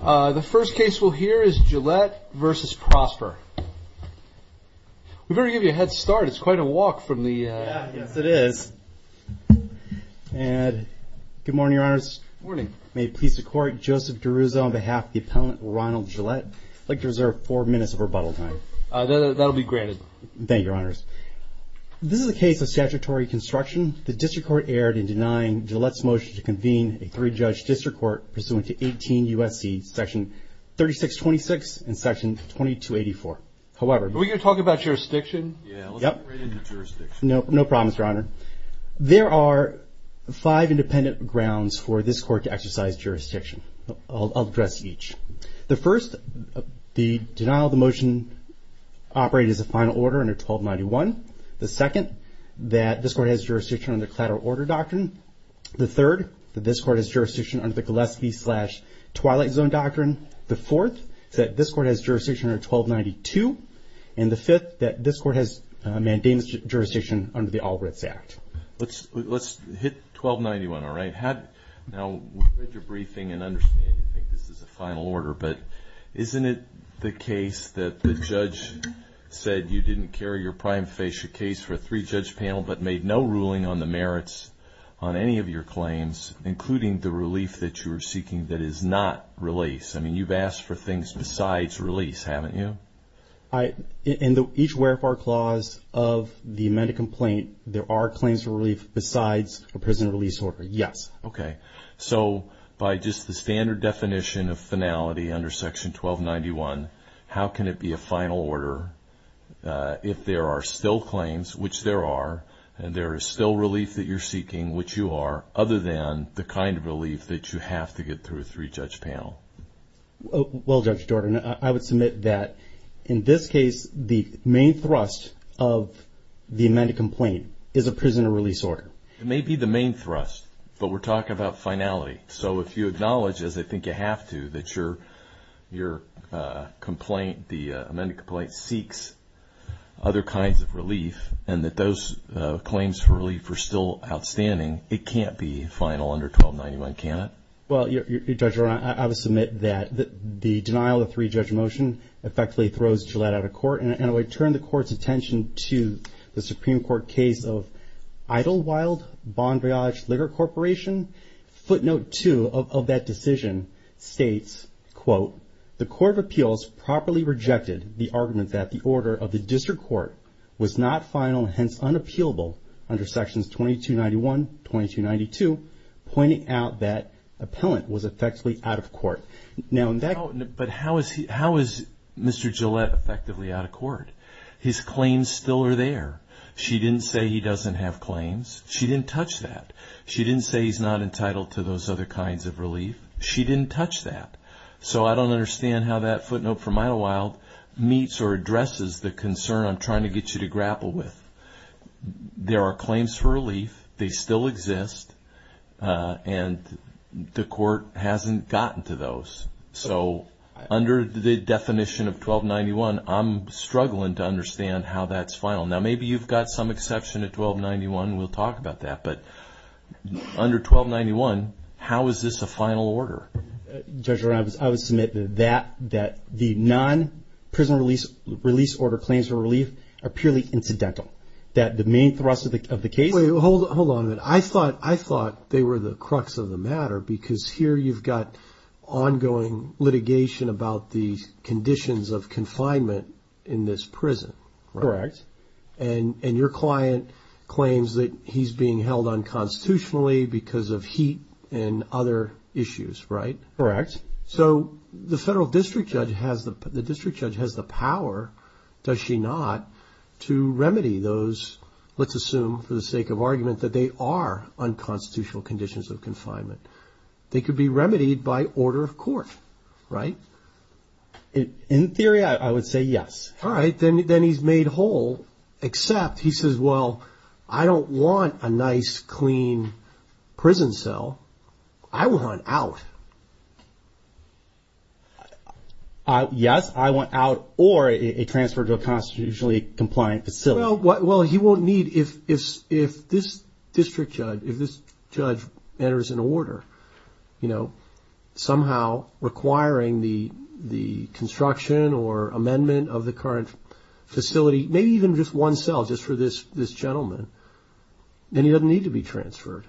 The first case we'll hear is Gillette v. Prosper. We'd better give you a head start, it's quite a walk from the... Yes, it is. good morning, your honors. May it please the court, Joseph DeRuzzo on behalf of the appellant Ronald Gillette. I'd like to reserve four minutes of rebuttal time. That'll be granted. Thank you, your honors. This is a case of statutory construction. The district court erred in denying Gillette's re-judged district court pursuant to 18 U.S.C. section 3626 and section 2284. However... Are we going to talk about jurisdiction? Yeah, let's get right into jurisdiction. No problem, your honor. There are five independent grounds for this court to exercise jurisdiction. I'll address each. The first, the denial of the motion operated as a final order under 1291. The second, that this court has jurisdiction under collateral order doctrine. The third, that this court has jurisdiction under the Gillespie slash Twilight Zone doctrine. The fourth, that this court has jurisdiction under 1292. And the fifth, that this court has mandated jurisdiction under the All Writs Act. Let's hit 1291, all right? Now, we've read your briefing and understand you think this is a final order, but isn't it the case that the judge said you didn't carry your prime facia case for a three-judge panel, but made no ruling on the merits on any of your claims, including the relief that you were seeking that is not release? I mean, you've asked for things besides release, haven't you? In each wherefore clause of the amended complaint, there are claims of relief besides a prison release order, yes. Okay, so by just the standard definition of finality under section 1291, how can it be a final order if there are still claims, which there are, and there is still relief that you're seeking, which you are, other than the kind of relief that you have to get through a three-judge panel? Well, Judge Jordan, I would submit that in this case, the main thrust of the amended complaint is a prison release order. It may be the main thrust, but we're talking about finality. So if you acknowledge, as I think you have to, that your complaint, the amended complaint, seeks other kinds of relief, and that those claims for relief are still outstanding, it can't be final under 1291, can it? Well, Judge Jordan, I would submit that the denial of three-judge motion effectively throws Gillette out of court, and it would turn the court's attention to the Supreme Court case of Idlewild Bondriage Liquor Corporation. Footnote two of that decision states, quote, the Court of Appeals properly rejected the argument that the order of the district court was not final, hence unappealable, under sections 2291, 2292, pointing out that appellant was effectively out of court. Now, in that case... But how is Mr. Gillette effectively out of court? His claims still are there. She didn't say he doesn't have claims. She didn't touch that. She didn't say he's not entitled to those other kinds of relief. She didn't touch that. So I don't understand how that footnote from Idlewild meets or addresses the concern I'm trying to get you to grapple with. There are claims for relief. They still exist, and the court hasn't gotten to those. So under the definition of 1291, I'm struggling to understand how that's final. Now, maybe you've got some exception to 1291, and we'll talk about that. But under 1291, how is this a final order? Judge, I would submit that the non-prison release order claims for relief are purely incidental, that the main thrust of the case... Wait, hold on a minute. I thought they were the crux of the matter, because here you've got ongoing litigation about the conditions of confinement in this prison. Correct. And your client claims that he's being held unconstitutionally because of heat and other issues, right? Correct. So the federal district judge has the power, does she not, to remedy those, let's assume for the sake of argument, that they are unconstitutional conditions of confinement. They could be remedied by order of court, right? In theory, I would say yes. All right, then he's made whole, except he says, well, I don't want a nice, clean prison cell. I want out. Yes, I want out or a transfer to a constitutionally compliant facility. Well, he won't need, if this district judge, if this judge enters an order, somehow requiring the construction or amendment of the current facility, maybe even just one cell just for this gentleman, then he doesn't need to be transferred.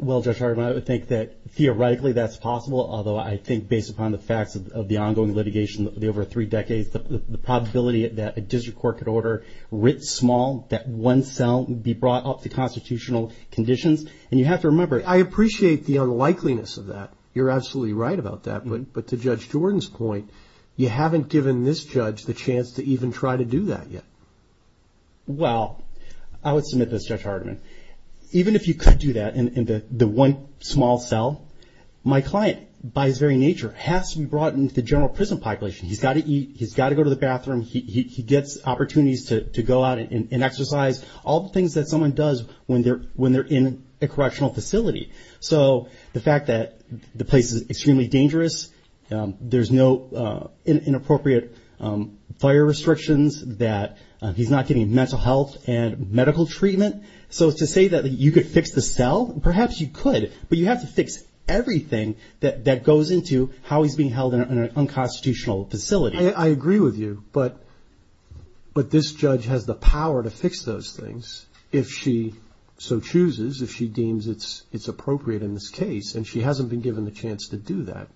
Well, Judge Hardiman, I would think that theoretically that's possible, although I think based upon the facts of the ongoing litigation over three decades, the probability that a district court could order writ small, that one cell would be brought up to constitutional conditions. And you have to remember, I appreciate the unlikeliness of that. You're absolutely right about that, but to Judge Jordan's point, you haven't given this judge the chance to even try to do that yet. Well, I would submit this, Judge Hardiman, even if you could do that in the one small cell, my client by his very nature has to be brought into the general prison population. He's got to eat. He's got to go to the bathroom. He gets opportunities to go out and exercise all the things that someone does when they're in a correctional facility. So the fact that the place is extremely dangerous, there's inappropriate fire restrictions, that he's not getting mental health and medical treatment, so to say that you could fix the cell, perhaps you could. But you have to fix everything that goes into how he's being held in an unconstitutional facility. I agree with you, but this judge has the power to fix those things if she so chooses, if she deems it's appropriate in this case. And she hasn't been given the chance to do that.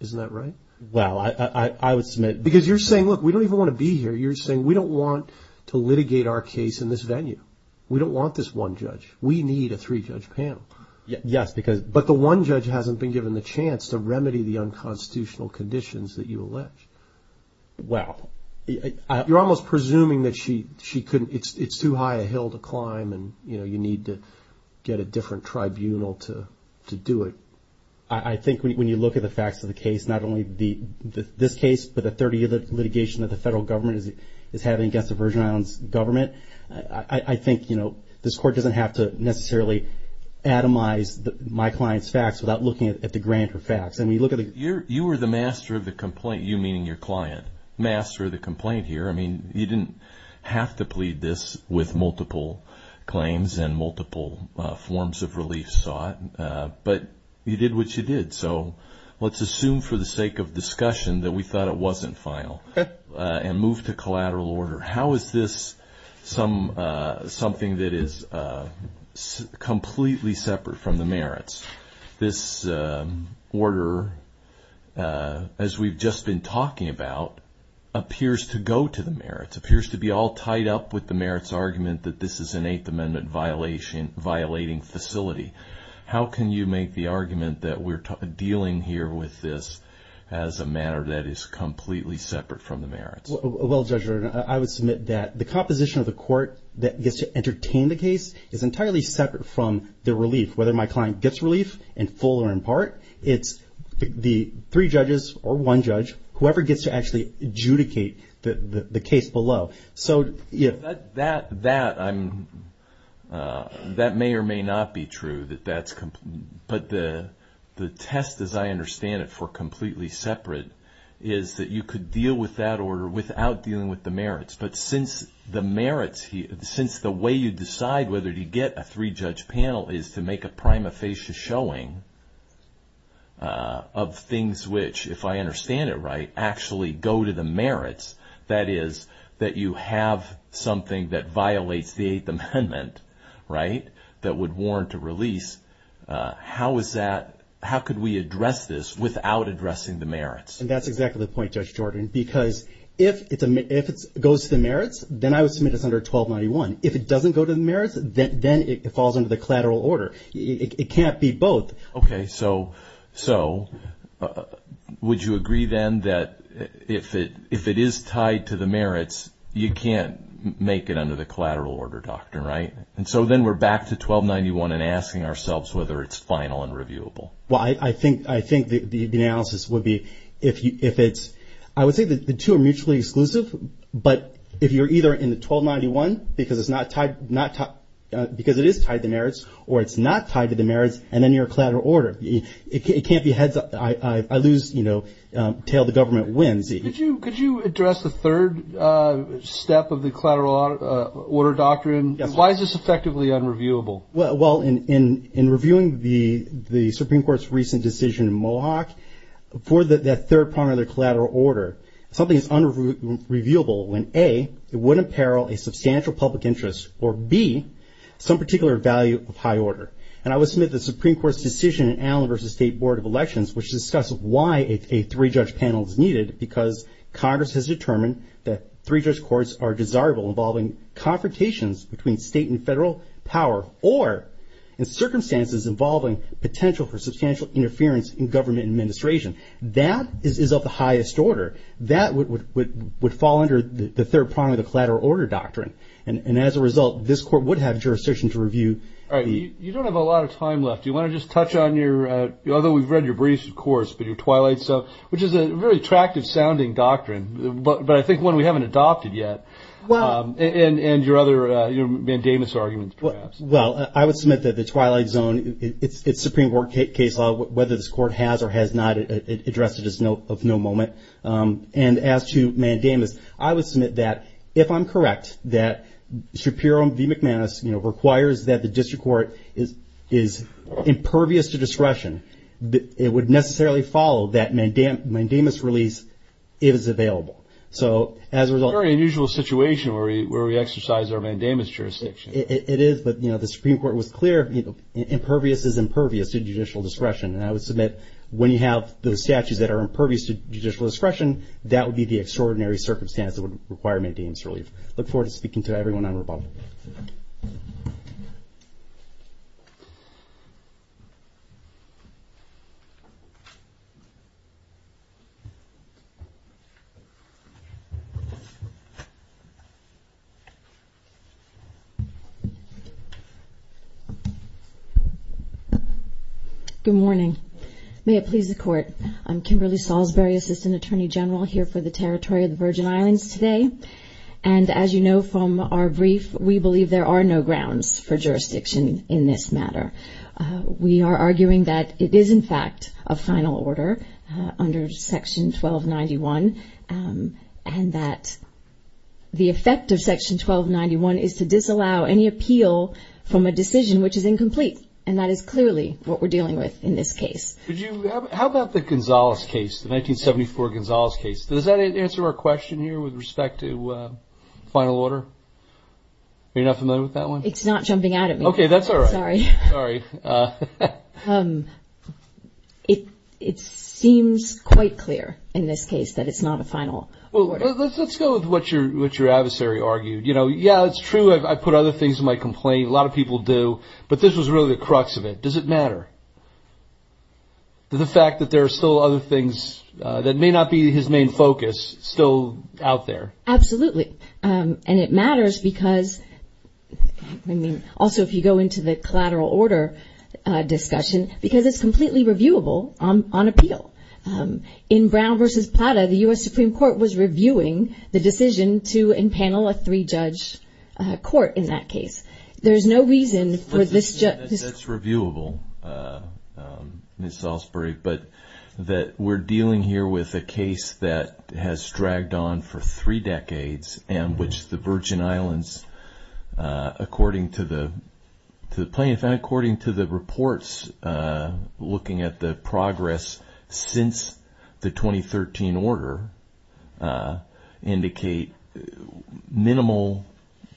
Isn't that right? Well, I would submit... Because you're saying, look, we don't even want to be here. You're saying, we don't want to litigate our case in this venue. We don't want this one judge. We need a three-judge panel. Yes, because... But the one judge hasn't been given the chance to remedy the unconstitutional conditions that you allege. Well... You're almost presuming that she couldn't, it's too high a hill to climb and, you know, you need to get a different tribunal to do it. I think when you look at the facts of the case, not only this case, but the 30 other litigation that the federal government is having against the Virgin Islands government, I think, you know, this court doesn't have to necessarily atomize my client's facts without looking at the grander facts. I mean, you look at the... You were the master of the complaint, you meaning your client, master of the complaint here. I mean, you didn't have to plead this with multiple claims and multiple forms of relief sought. But you did what you did. So let's assume for the sake of discussion that we thought it wasn't final and move to collateral order. How is this something that is completely separate from the merits? This order, as we've just been talking about, appears to go to the merits, appears to be all tied up with the merits argument that this is an Eighth Amendment violating facility. How can you make the argument that we're dealing here with this as a matter that is completely separate from the merits? Well, Judge, I would submit that the composition of the court that gets to entertain the case is entirely separate from the relief, whether my client gets relief in full or in part, it's the three judges or one judge, whoever gets to actually adjudicate the case below. So that may or may not be true, but the test, as I understand it, for completely separate is that you could deal with that order without dealing with the merits, but since the way you decide whether to get a three-judge panel is to make a prima facie showing of things which, if I That is that you have something that violates the Eighth Amendment, right? That would warrant a release. How is that, how could we address this without addressing the merits? And that's exactly the point, Judge Jordan, because if it goes to the merits, then I would submit it's under 1291. If it doesn't go to the merits, then it falls under the collateral order. It can't be both. Okay. So would you agree then that if it is tied to the merits, you can't make it under the collateral order doctrine, right? And so then we're back to 1291 and asking ourselves whether it's final and reviewable. Well, I think the analysis would be if it's, I would say that the two are mutually exclusive, but if you're either in the 1291 because it is tied to it can't be heads, I lose, you know, tail the government wins. Could you address the third step of the collateral order doctrine? Why is this effectively unreviewable? Well, in reviewing the Supreme Court's recent decision in Mohawk for that third part of the collateral order, something is unreviewable when A, it would imperil a substantial public interest or B, some particular value of high order. And I would submit the Supreme Court's decision in Allen versus State Board of Elections, which discuss why a three judge panel is needed because Congress has determined that three judge courts are desirable involving confrontations between state and federal power or in circumstances involving potential for substantial interference in government administration. That is of the highest order. That would fall under the third part of the collateral order doctrine. And as a result, this court would have jurisdiction to review. All right. You don't have a lot of time left. Do you want to just touch on your, although we've read your briefs, of course, but your Twilight Zone, which is a very attractive sounding doctrine, but I think one we haven't adopted yet. Well, and your other mandamus arguments perhaps. Well, I would submit that the Twilight Zone, it's Supreme Court case law, whether this court has or has not addressed it is of no moment. And as to mandamus, I would submit that if I'm correct, that Shapiro v. District Court is impervious to discretion. It would necessarily follow that mandamus release if it's available. So as a result. Very unusual situation where we exercise our mandamus jurisdiction. It is. But, you know, the Supreme Court was clear. Impervious is impervious to judicial discretion. And I would submit when you have those statutes that are impervious to judicial discretion, that would be the extraordinary circumstance that would require mandamus relief. Look forward to speaking to everyone on rebuttal. Thank you. Good morning. May it please the court, I'm Kimberly Salisbury, Assistant Attorney General here for the Territory of the Virgin Islands today. And as you know from our brief, we believe there are no grounds for jurisdiction in this matter. We are arguing that it is, in fact, a final order under Section 1291 and that the effect of Section 1291 is to disallow any appeal from a decision which is incomplete. And that is clearly what we're dealing with in this case. How about the Gonzalez case, the 1974 Gonzalez case? Does that answer our question here with respect to final order? You're not familiar with that one? It's not jumping out at me. OK, that's all right. Sorry. It seems quite clear in this case that it's not a final order. Let's go with what your adversary argued. You know, yeah, it's true. I put other things in my complaint. A lot of people do. But this was really the crux of it. Does it matter? The fact that there are still other things that may not be his main focus still out there. Absolutely. And it matters because, I mean, also if you go into the collateral order discussion, because it's completely reviewable on appeal. In Brown v. Plata, the U.S. Supreme Court was reviewing the decision to impanel a three-judge court in that case. There's no reason for this. That's reviewable. Ms. Salisbury, but that we're dealing here with a case that has dragged on for three decades and which the Virgin Islands, according to the plaintiff and according to the reports looking at the progress since the 2013 order, indicate minimal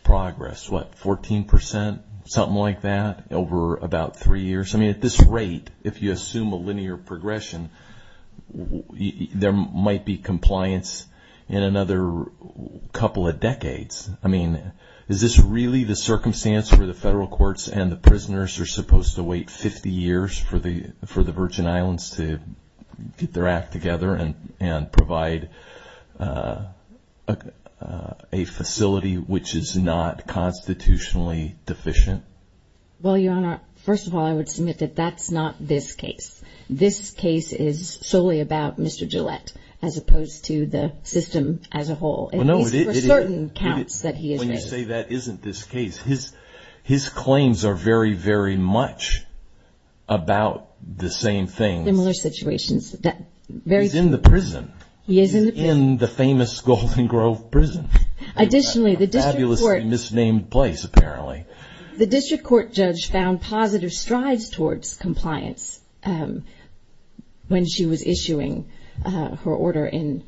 progress, what, 14 percent, something like that, over about three years. I mean, at this rate, if you assume a linear progression, there might be compliance in another couple of decades. I mean, is this really the circumstance where the federal courts and the prisoners are supposed to wait 50 years for the Virgin Islands to get their act together and provide a facility which is not constitutionally deficient? Well, Your Honor, first of all, I would submit that that's not this case. This case is solely about Mr. Gillette, as opposed to the system as a whole. It is for certain counts that he is in. When you say that isn't this case, his claims are very, very much about the same thing. Similar situations. He's in the prison. He is in the famous Golden Grove prison. Additionally, the District Court... A fabulously misnamed place, apparently. The District Court judge found positive strides towards compliance when she was issuing her order in,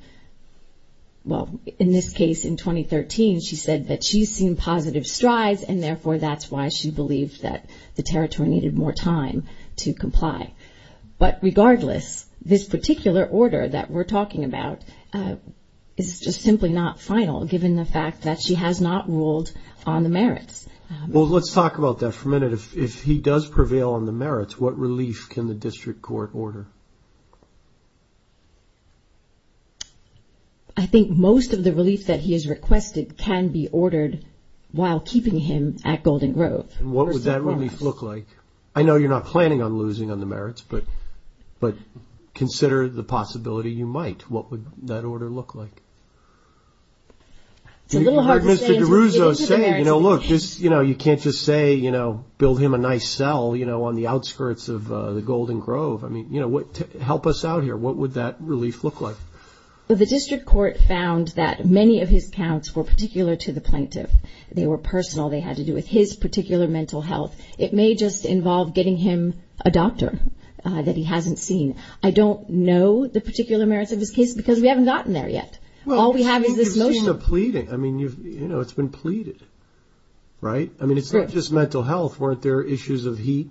well, in this case, in 2013, she said that she's seen positive strides and therefore that's why she believed that the territory needed more time to comply. But regardless, this particular order that we're talking about is just simply not final, given the fact that she has not ruled on the merits. Well, let's talk about that for a minute. If he does prevail on the merits, what relief can the District Court order? I think most of the relief that he has requested can be ordered while keeping him at Golden Grove. And what would that relief look like? I know you're not planning on losing on the merits, but consider the possibility you might. What would that order look like? It's a little hard to say. Mr. DeRuzo's saying, you know, look, you can't just say, you know, build him a nice cell, you know, on the outskirts of the Golden Grove. I mean, you know, help us out here. What would that relief look like? The District Court found that many of his counts were particular to the plaintiff. They were personal. They had to do with his particular mental health. It may just involve getting him a doctor that he hasn't seen. I don't know the particular merits of his case because we haven't gotten there yet. All we have is this motion of pleading. I mean, you know, it's been pleaded. Right. I mean, it's not just mental health. Weren't there issues of heat?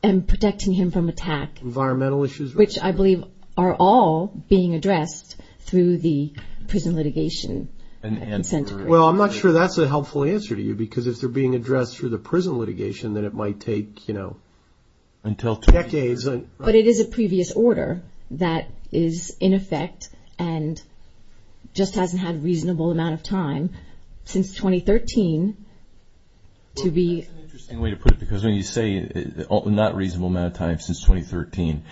And protecting him from attack. Environmental issues. Which I believe are all being addressed through the prison litigation. And well, I'm not sure that's a helpful answer to you because if they're being addressed through the prison litigation, then it might take, you know, until two decades. But it is a previous order that is in effect and just hasn't had a reasonable amount of time since 2013 to be... That's an interesting way to put it because when you say not reasonable amount of time since 2013,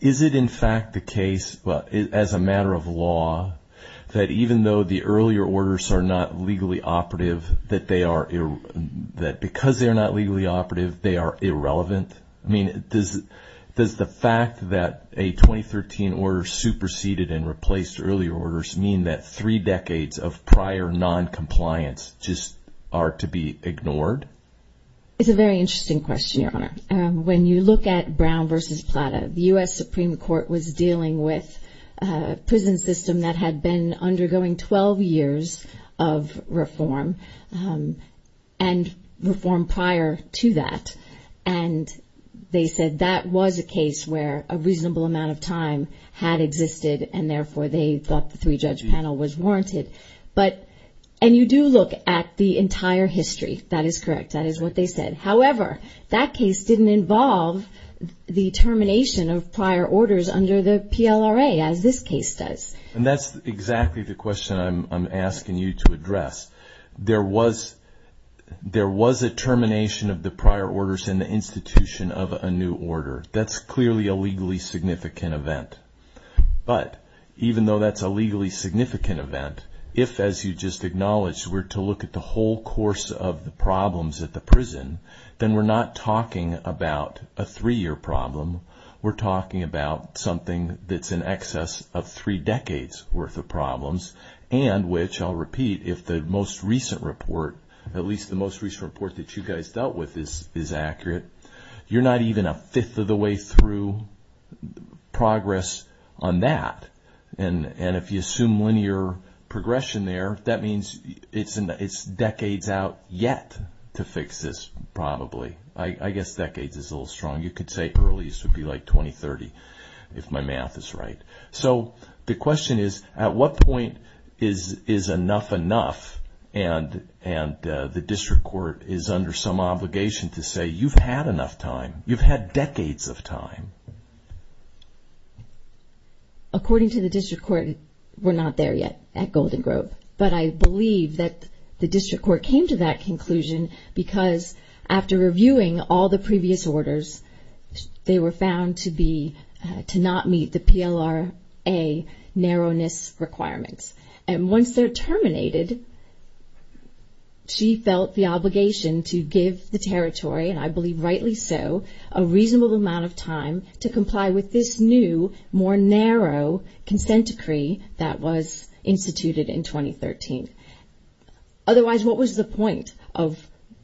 is it in fact the case as a matter of law that even though the earlier orders are not legally operative, that because they are not legally operative, they are irrelevant? I mean, does the fact that a 2013 order superseded and replaced earlier orders mean that three decades of prior non-compliance just are to be ignored? It's a very interesting question, Your Honor. When you look at Brown v. Plata, the U.S. had 12 years of reform and reform prior to that. And they said that was a case where a reasonable amount of time had existed and therefore they thought the three-judge panel was warranted. But, and you do look at the entire history. That is correct. That is what they said. However, that case didn't involve the termination of prior orders under the PLRA as this case does. And that's exactly the question I'm asking you to address. There was, there was a termination of the prior orders in the institution of a new order. That's clearly a legally significant event. But even though that's a legally significant event, if as you just acknowledged, we're to look at the whole course of the problems at the prison, then we're not talking about a three-year problem. We're talking about something that's in excess of three decades worth of problems and which I'll repeat, if the most recent report, at least the most recent report that you guys dealt with is accurate, you're not even a fifth of the way through progress on that. And if you assume linear progression there, that means it's decades out yet to fix this probably. I guess decades is a little strong. You could say earliest would be like 2030, if my math is right. So the question is, at what point is enough enough and the district court is under some obligation to say, you've had enough time, you've had decades of time? According to the district court, we're not there yet at Golden Grove. But I believe that the district court came to that conclusion because after reviewing all the previous orders, they were found to be, to not meet the PLRA narrowness requirements. And once they're terminated, she felt the obligation to give the territory, and I believe rightly so, a reasonable amount of time to comply with this new, more narrow consent decree that was instituted in 2013. Otherwise, what was the point of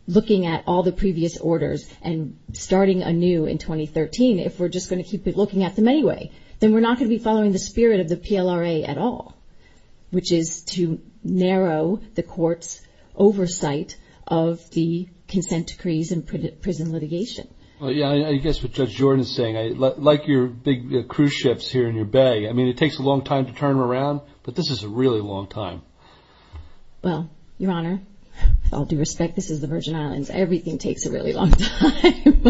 looking at all the previous orders and starting a new in 2013 if we're just going to keep looking at them anyway? Then we're not going to be following the spirit of the PLRA at all, which is to narrow the court's oversight of the consent decrees and prison litigation. Well, yeah, I guess what Judge Jordan is saying, like your big cruise ships here in your bay, I mean, it takes a long time to turn around, but this is a really long time. Well, Your Honor, with all due respect, this is the Virgin Islands. Everything takes a really long time.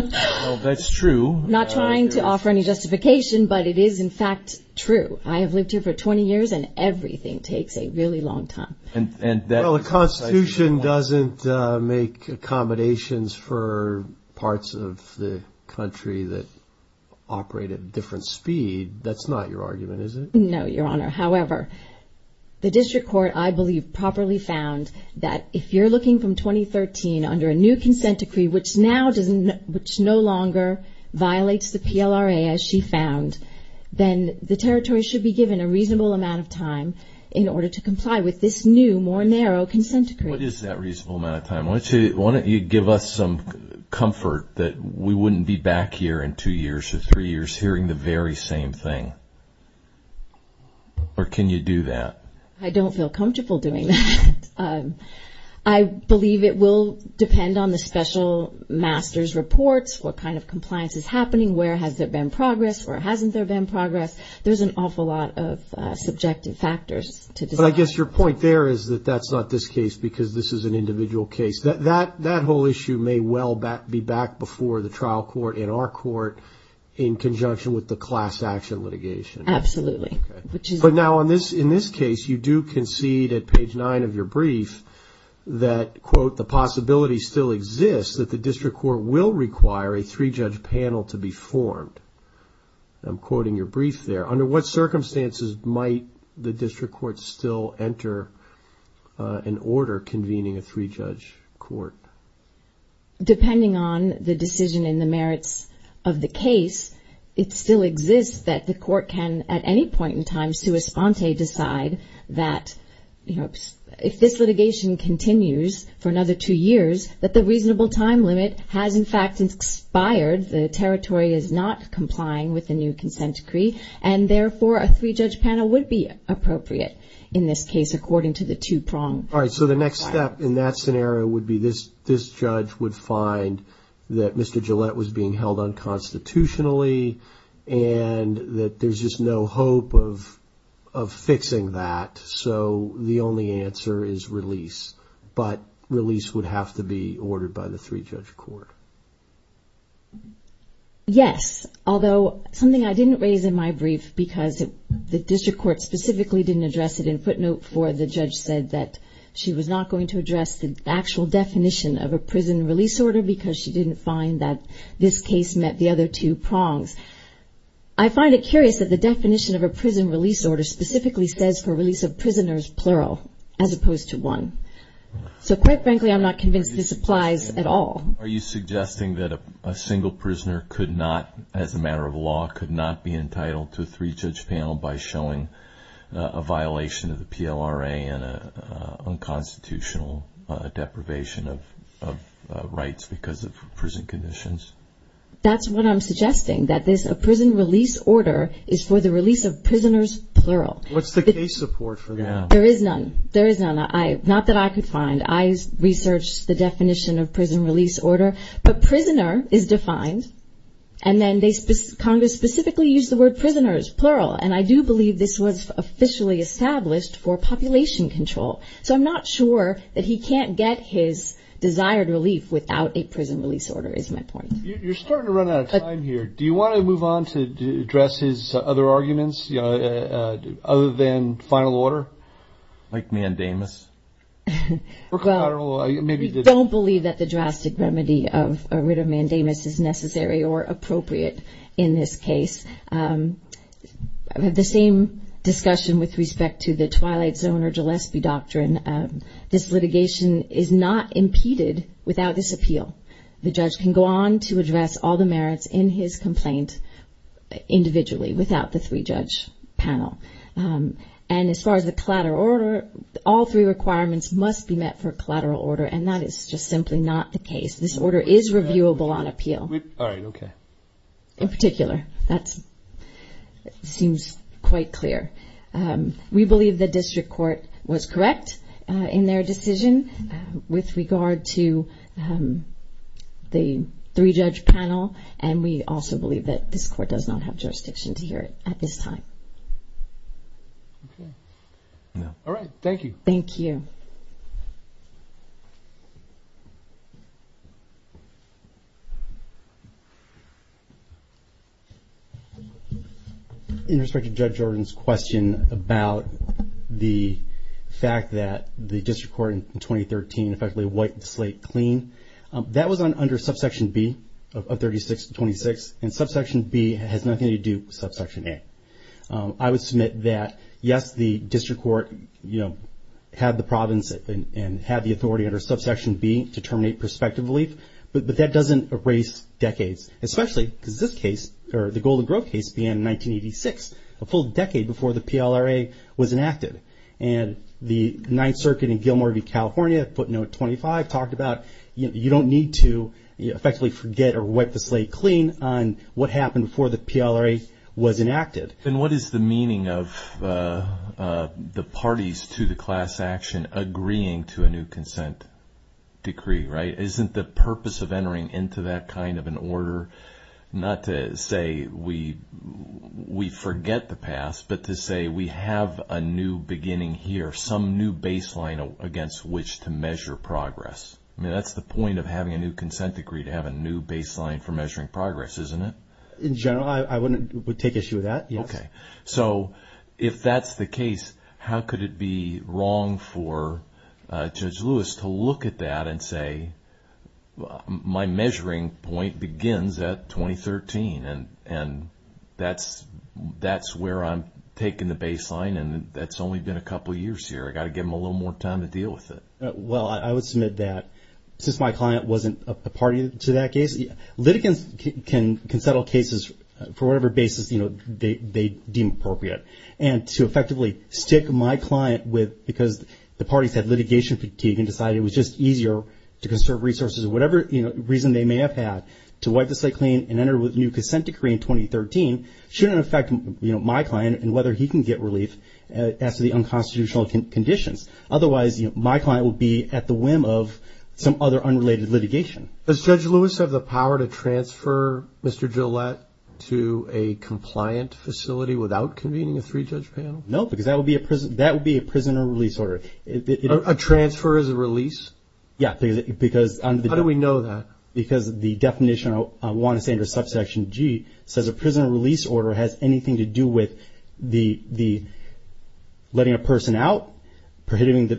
That's true. Not trying to offer any justification, but it is in fact true. I have lived here for 20 years and everything takes a really long time. And the Constitution doesn't make accommodations for parts of the country that operate at different speed. That's not your argument, is it? No, Your Honor. However, the district court, I believe, properly found that if you're looking from 2013 under a new consent decree, which no longer violates the PLRA as she found, then the territory should be given a reasonable amount of time in order to comply with this new, more narrow consent decree. What is that reasonable amount of time? Why don't you give us some comfort that we wouldn't be back here in two years or three years hearing the very same thing? Or can you do that? I don't feel comfortable doing that. I believe it will depend on the special master's reports. What kind of compliance is happening? Where has there been progress? Where hasn't there been progress? There's an awful lot of subjective factors to decide. But I guess your point there is that that's not this case because this is an individual case. That whole issue may well be back before the trial court in our court in conjunction with the class action litigation. Absolutely. But now in this case, you do concede at page nine of your brief that, quote, the possibility still exists that the district court will require a three-judge panel to be formed. I'm quoting your brief there. Under what circumstances might the district court still enter an order convening a three-judge court? Depending on the decision and the merits of the case, it still exists that the district court in time, sua sponte, decide that if this litigation continues for another two years, that the reasonable time limit has in fact expired. The territory is not complying with the new consent decree and therefore a three-judge panel would be appropriate in this case, according to the two-pronged. All right. So the next step in that scenario would be this judge would find that Mr. There's no hope of fixing that. So the only answer is release, but release would have to be ordered by the three-judge court. Yes. Although something I didn't raise in my brief because the district court specifically didn't address it in footnote four, the judge said that she was not going to address the actual definition of a prison release order because she didn't find that this case met the other two prongs. I find it curious that the definition of a prison release order specifically says for release of prisoners, plural, as opposed to one. So quite frankly, I'm not convinced this applies at all. Are you suggesting that a single prisoner could not, as a matter of law, could not be entitled to a three-judge panel by showing a violation of the PLRA and a unconstitutional deprivation of rights because of prison conditions? That's what I'm suggesting, that this prison release order is for the release of prisoners, plural. What's the case support for that? There is none. There is none. Not that I could find. I researched the definition of prison release order, but prisoner is defined. And then Congress specifically used the word prisoners, plural. And I do believe this was officially established for population control. So I'm not sure that he can't get his desired relief without a prison release order, is my point. You're starting to run out of time here. Do you want to move on to address his other arguments, other than final order? Like mandamus? We don't believe that the drastic remedy of a writ of mandamus is necessary or appropriate in this case. I have the same discussion with respect to the Twilight Zone or Gillespie doctrine. This litigation is not impeded without disappeal. The judge can go on to address all the merits in his complaint individually without the three-judge panel. And as far as the collateral order, all three requirements must be met for collateral order. And that is just simply not the case. This order is reviewable on appeal in particular. That seems quite clear. We believe the district court was correct in their decision with regard to the three-judge panel. And we also believe that this court does not have jurisdiction to hear it at this time. All right. Thank you. Thank you. In respect to Judge Jordan's question about the fact that the district court in 2013 effectively wiped the slate clean. That was under subsection B of 36 to 26. And subsection B has nothing to do with subsection A. I would submit that, yes, the district court had the province and had the authority under subsection B to terminate prospective relief. But that doesn't erase decades, especially because this case or the Golden Grove case began in 1986, a full decade before the PLRA was enacted. And the Ninth Circuit in Gilmore View, California, footnote 25, talked about you don't need to effectively forget or wipe the slate clean on what happened before the PLRA was enacted. And what is the meaning of the parties to the class action agreeing to a new consent decree, right? Isn't the purpose of entering into that kind of an order not to say we forget the past, but to say we have a new beginning here, some new baseline against which to measure progress? I mean, that's the point of having a new consent decree, to have a new baseline for measuring progress, isn't it? In general, I wouldn't take issue with that, yes. Okay. So if that's the case, how could it be wrong for Judge Lewis to look at that and say, well, my measuring point begins at 2013 and that's where I'm taking the baseline and that's only been a couple of years here. I got to give them a little more time to deal with it. Well, I would submit that since my client wasn't a party to that case, litigants can settle cases for whatever basis they deem appropriate. And to effectively stick my client with, because the parties had litigation fatigue and decided it was just easier to conserve resources or whatever reason they may have had to wipe the slate clean and enter with a new consent decree in 2013, shouldn't affect my client and whether he can get relief as to the unconstitutional conditions. Otherwise, my client will be at the whim of some other unrelated litigation. Does Judge Lewis have the power to transfer Mr. Gillette to a compliant facility without convening a three-judge panel? No, because that would be a prisoner release order. A transfer is a release? Yeah, because under the- How do we know that? Because the definition of Juan Assange's subsection G says a prisoner release order has anything to do with letting a person out, prohibiting a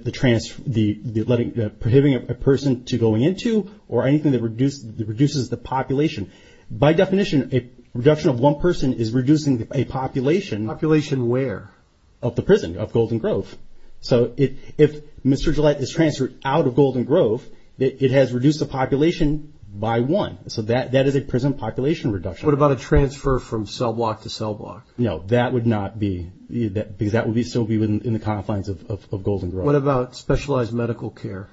person to going into, or anything that reduces the population. By definition, a reduction of one person is reducing a population- Population where? Of the prison, of Golden Grove. So if Mr. Gillette is transferred out of Golden Grove, it has reduced the population by one. So that is a prison population reduction. What about a transfer from cell block to cell block? No, that would not be, because that would still be within the confines of Golden Grove. What about specialized medical care?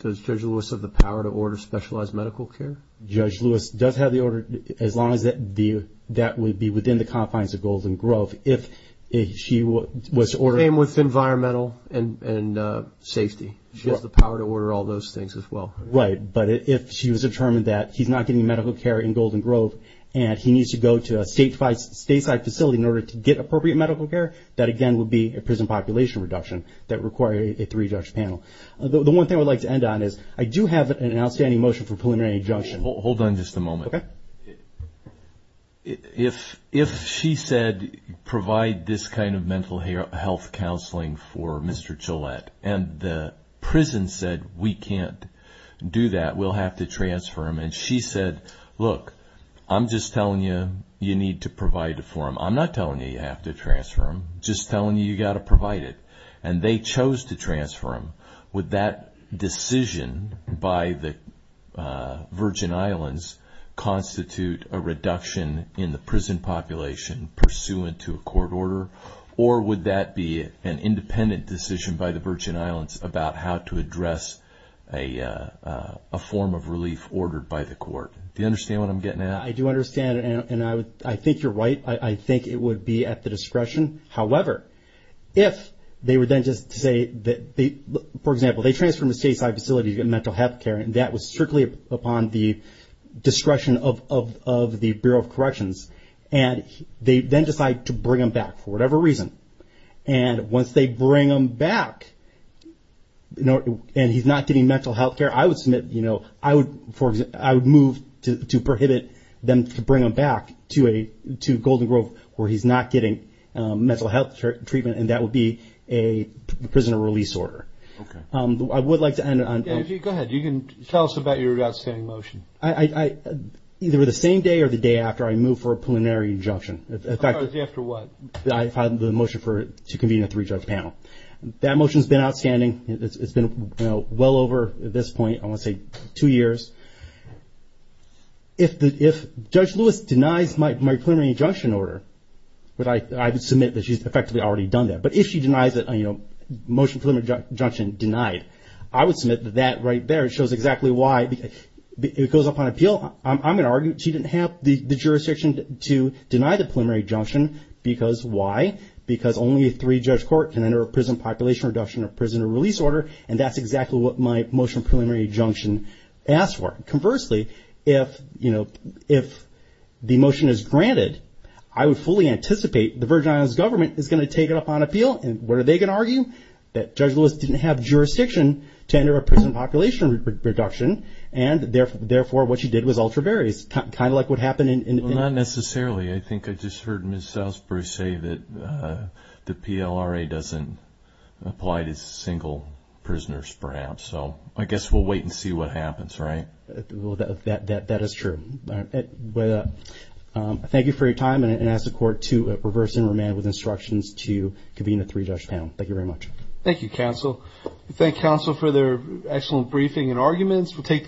Does Judge Lewis have the power to order specialized medical care? Judge Lewis does have the order, as long as that would be within the confines of Golden Grove, if she was ordered- Same with environmental and safety. She has the power to order all those things as well. Right, but if she was determined that he's not getting medical care in Golden Grove and he needs to go to a stateside facility in order to get appropriate medical care, that again would be a prison population reduction that would require a three-judge panel. The one thing I would like to end on is, I do have an outstanding motion for preliminary adjunction- Hold on just a moment. Okay. If she said, provide this kind of mental health counseling for Mr. Gillette, and the prison said, we can't do that, we'll have to transfer him. And she said, look, I'm just telling you, you need to provide it for him. I'm not telling you, you have to transfer him, just telling you, you got to provide it. And they chose to transfer him. Would that decision by the Virgin Islands constitute a reduction in the prison population pursuant to a court order? Or would that be an independent decision by the Virgin Islands about how to address a court? Do you understand what I'm getting at? I do understand, and I think you're right. I think it would be at the discretion. However, if they were then just to say that, for example, they transferred him to a stateside facility to get mental health care, and that was strictly upon the discretion of the Bureau of Corrections, and they then decide to bring him back for whatever reason. And once they bring him back, and he's not getting mental health care, I would submit, you know, I would move to prohibit them to bring him back to Golden Grove where he's not getting mental health treatment. And that would be a prisoner release order. I would like to end on. Go ahead. You can tell us about your outstanding motion. Either the same day or the day after I move for a preliminary injunction. After what? I filed the motion to convene a three-judge panel. That motion has been outstanding. It's been well over at this point. I want to say two years. If Judge Lewis denies my preliminary injunction order, I would submit that she's effectively already done that. But if she denies it, you know, motion preliminary injunction denied, I would submit that that right there shows exactly why it goes up on appeal. I'm going to argue she didn't have the jurisdiction to deny the preliminary injunction because why? Because only a three-judge court can enter a prison population reduction or prisoner release order. And that's exactly what my motion preliminary injunction asked for. Conversely, if, you know, if the motion is granted, I would fully anticipate the Virgin Islands government is going to take it up on appeal. And what are they going to argue? That Judge Lewis didn't have jurisdiction to enter a prison population reduction. And therefore, what she did was alter barriers. Kind of like what happened in... Well, not necessarily. I think I just heard Ms. Applied as single prisoners, perhaps. So I guess we'll wait and see what happens. Right? That is true. Thank you for your time. And I ask the court to reverse and remand with instructions to convene a three-judge panel. Thank you very much. Thank you, counsel. Thank counsel for their excellent briefing and arguments. We'll take.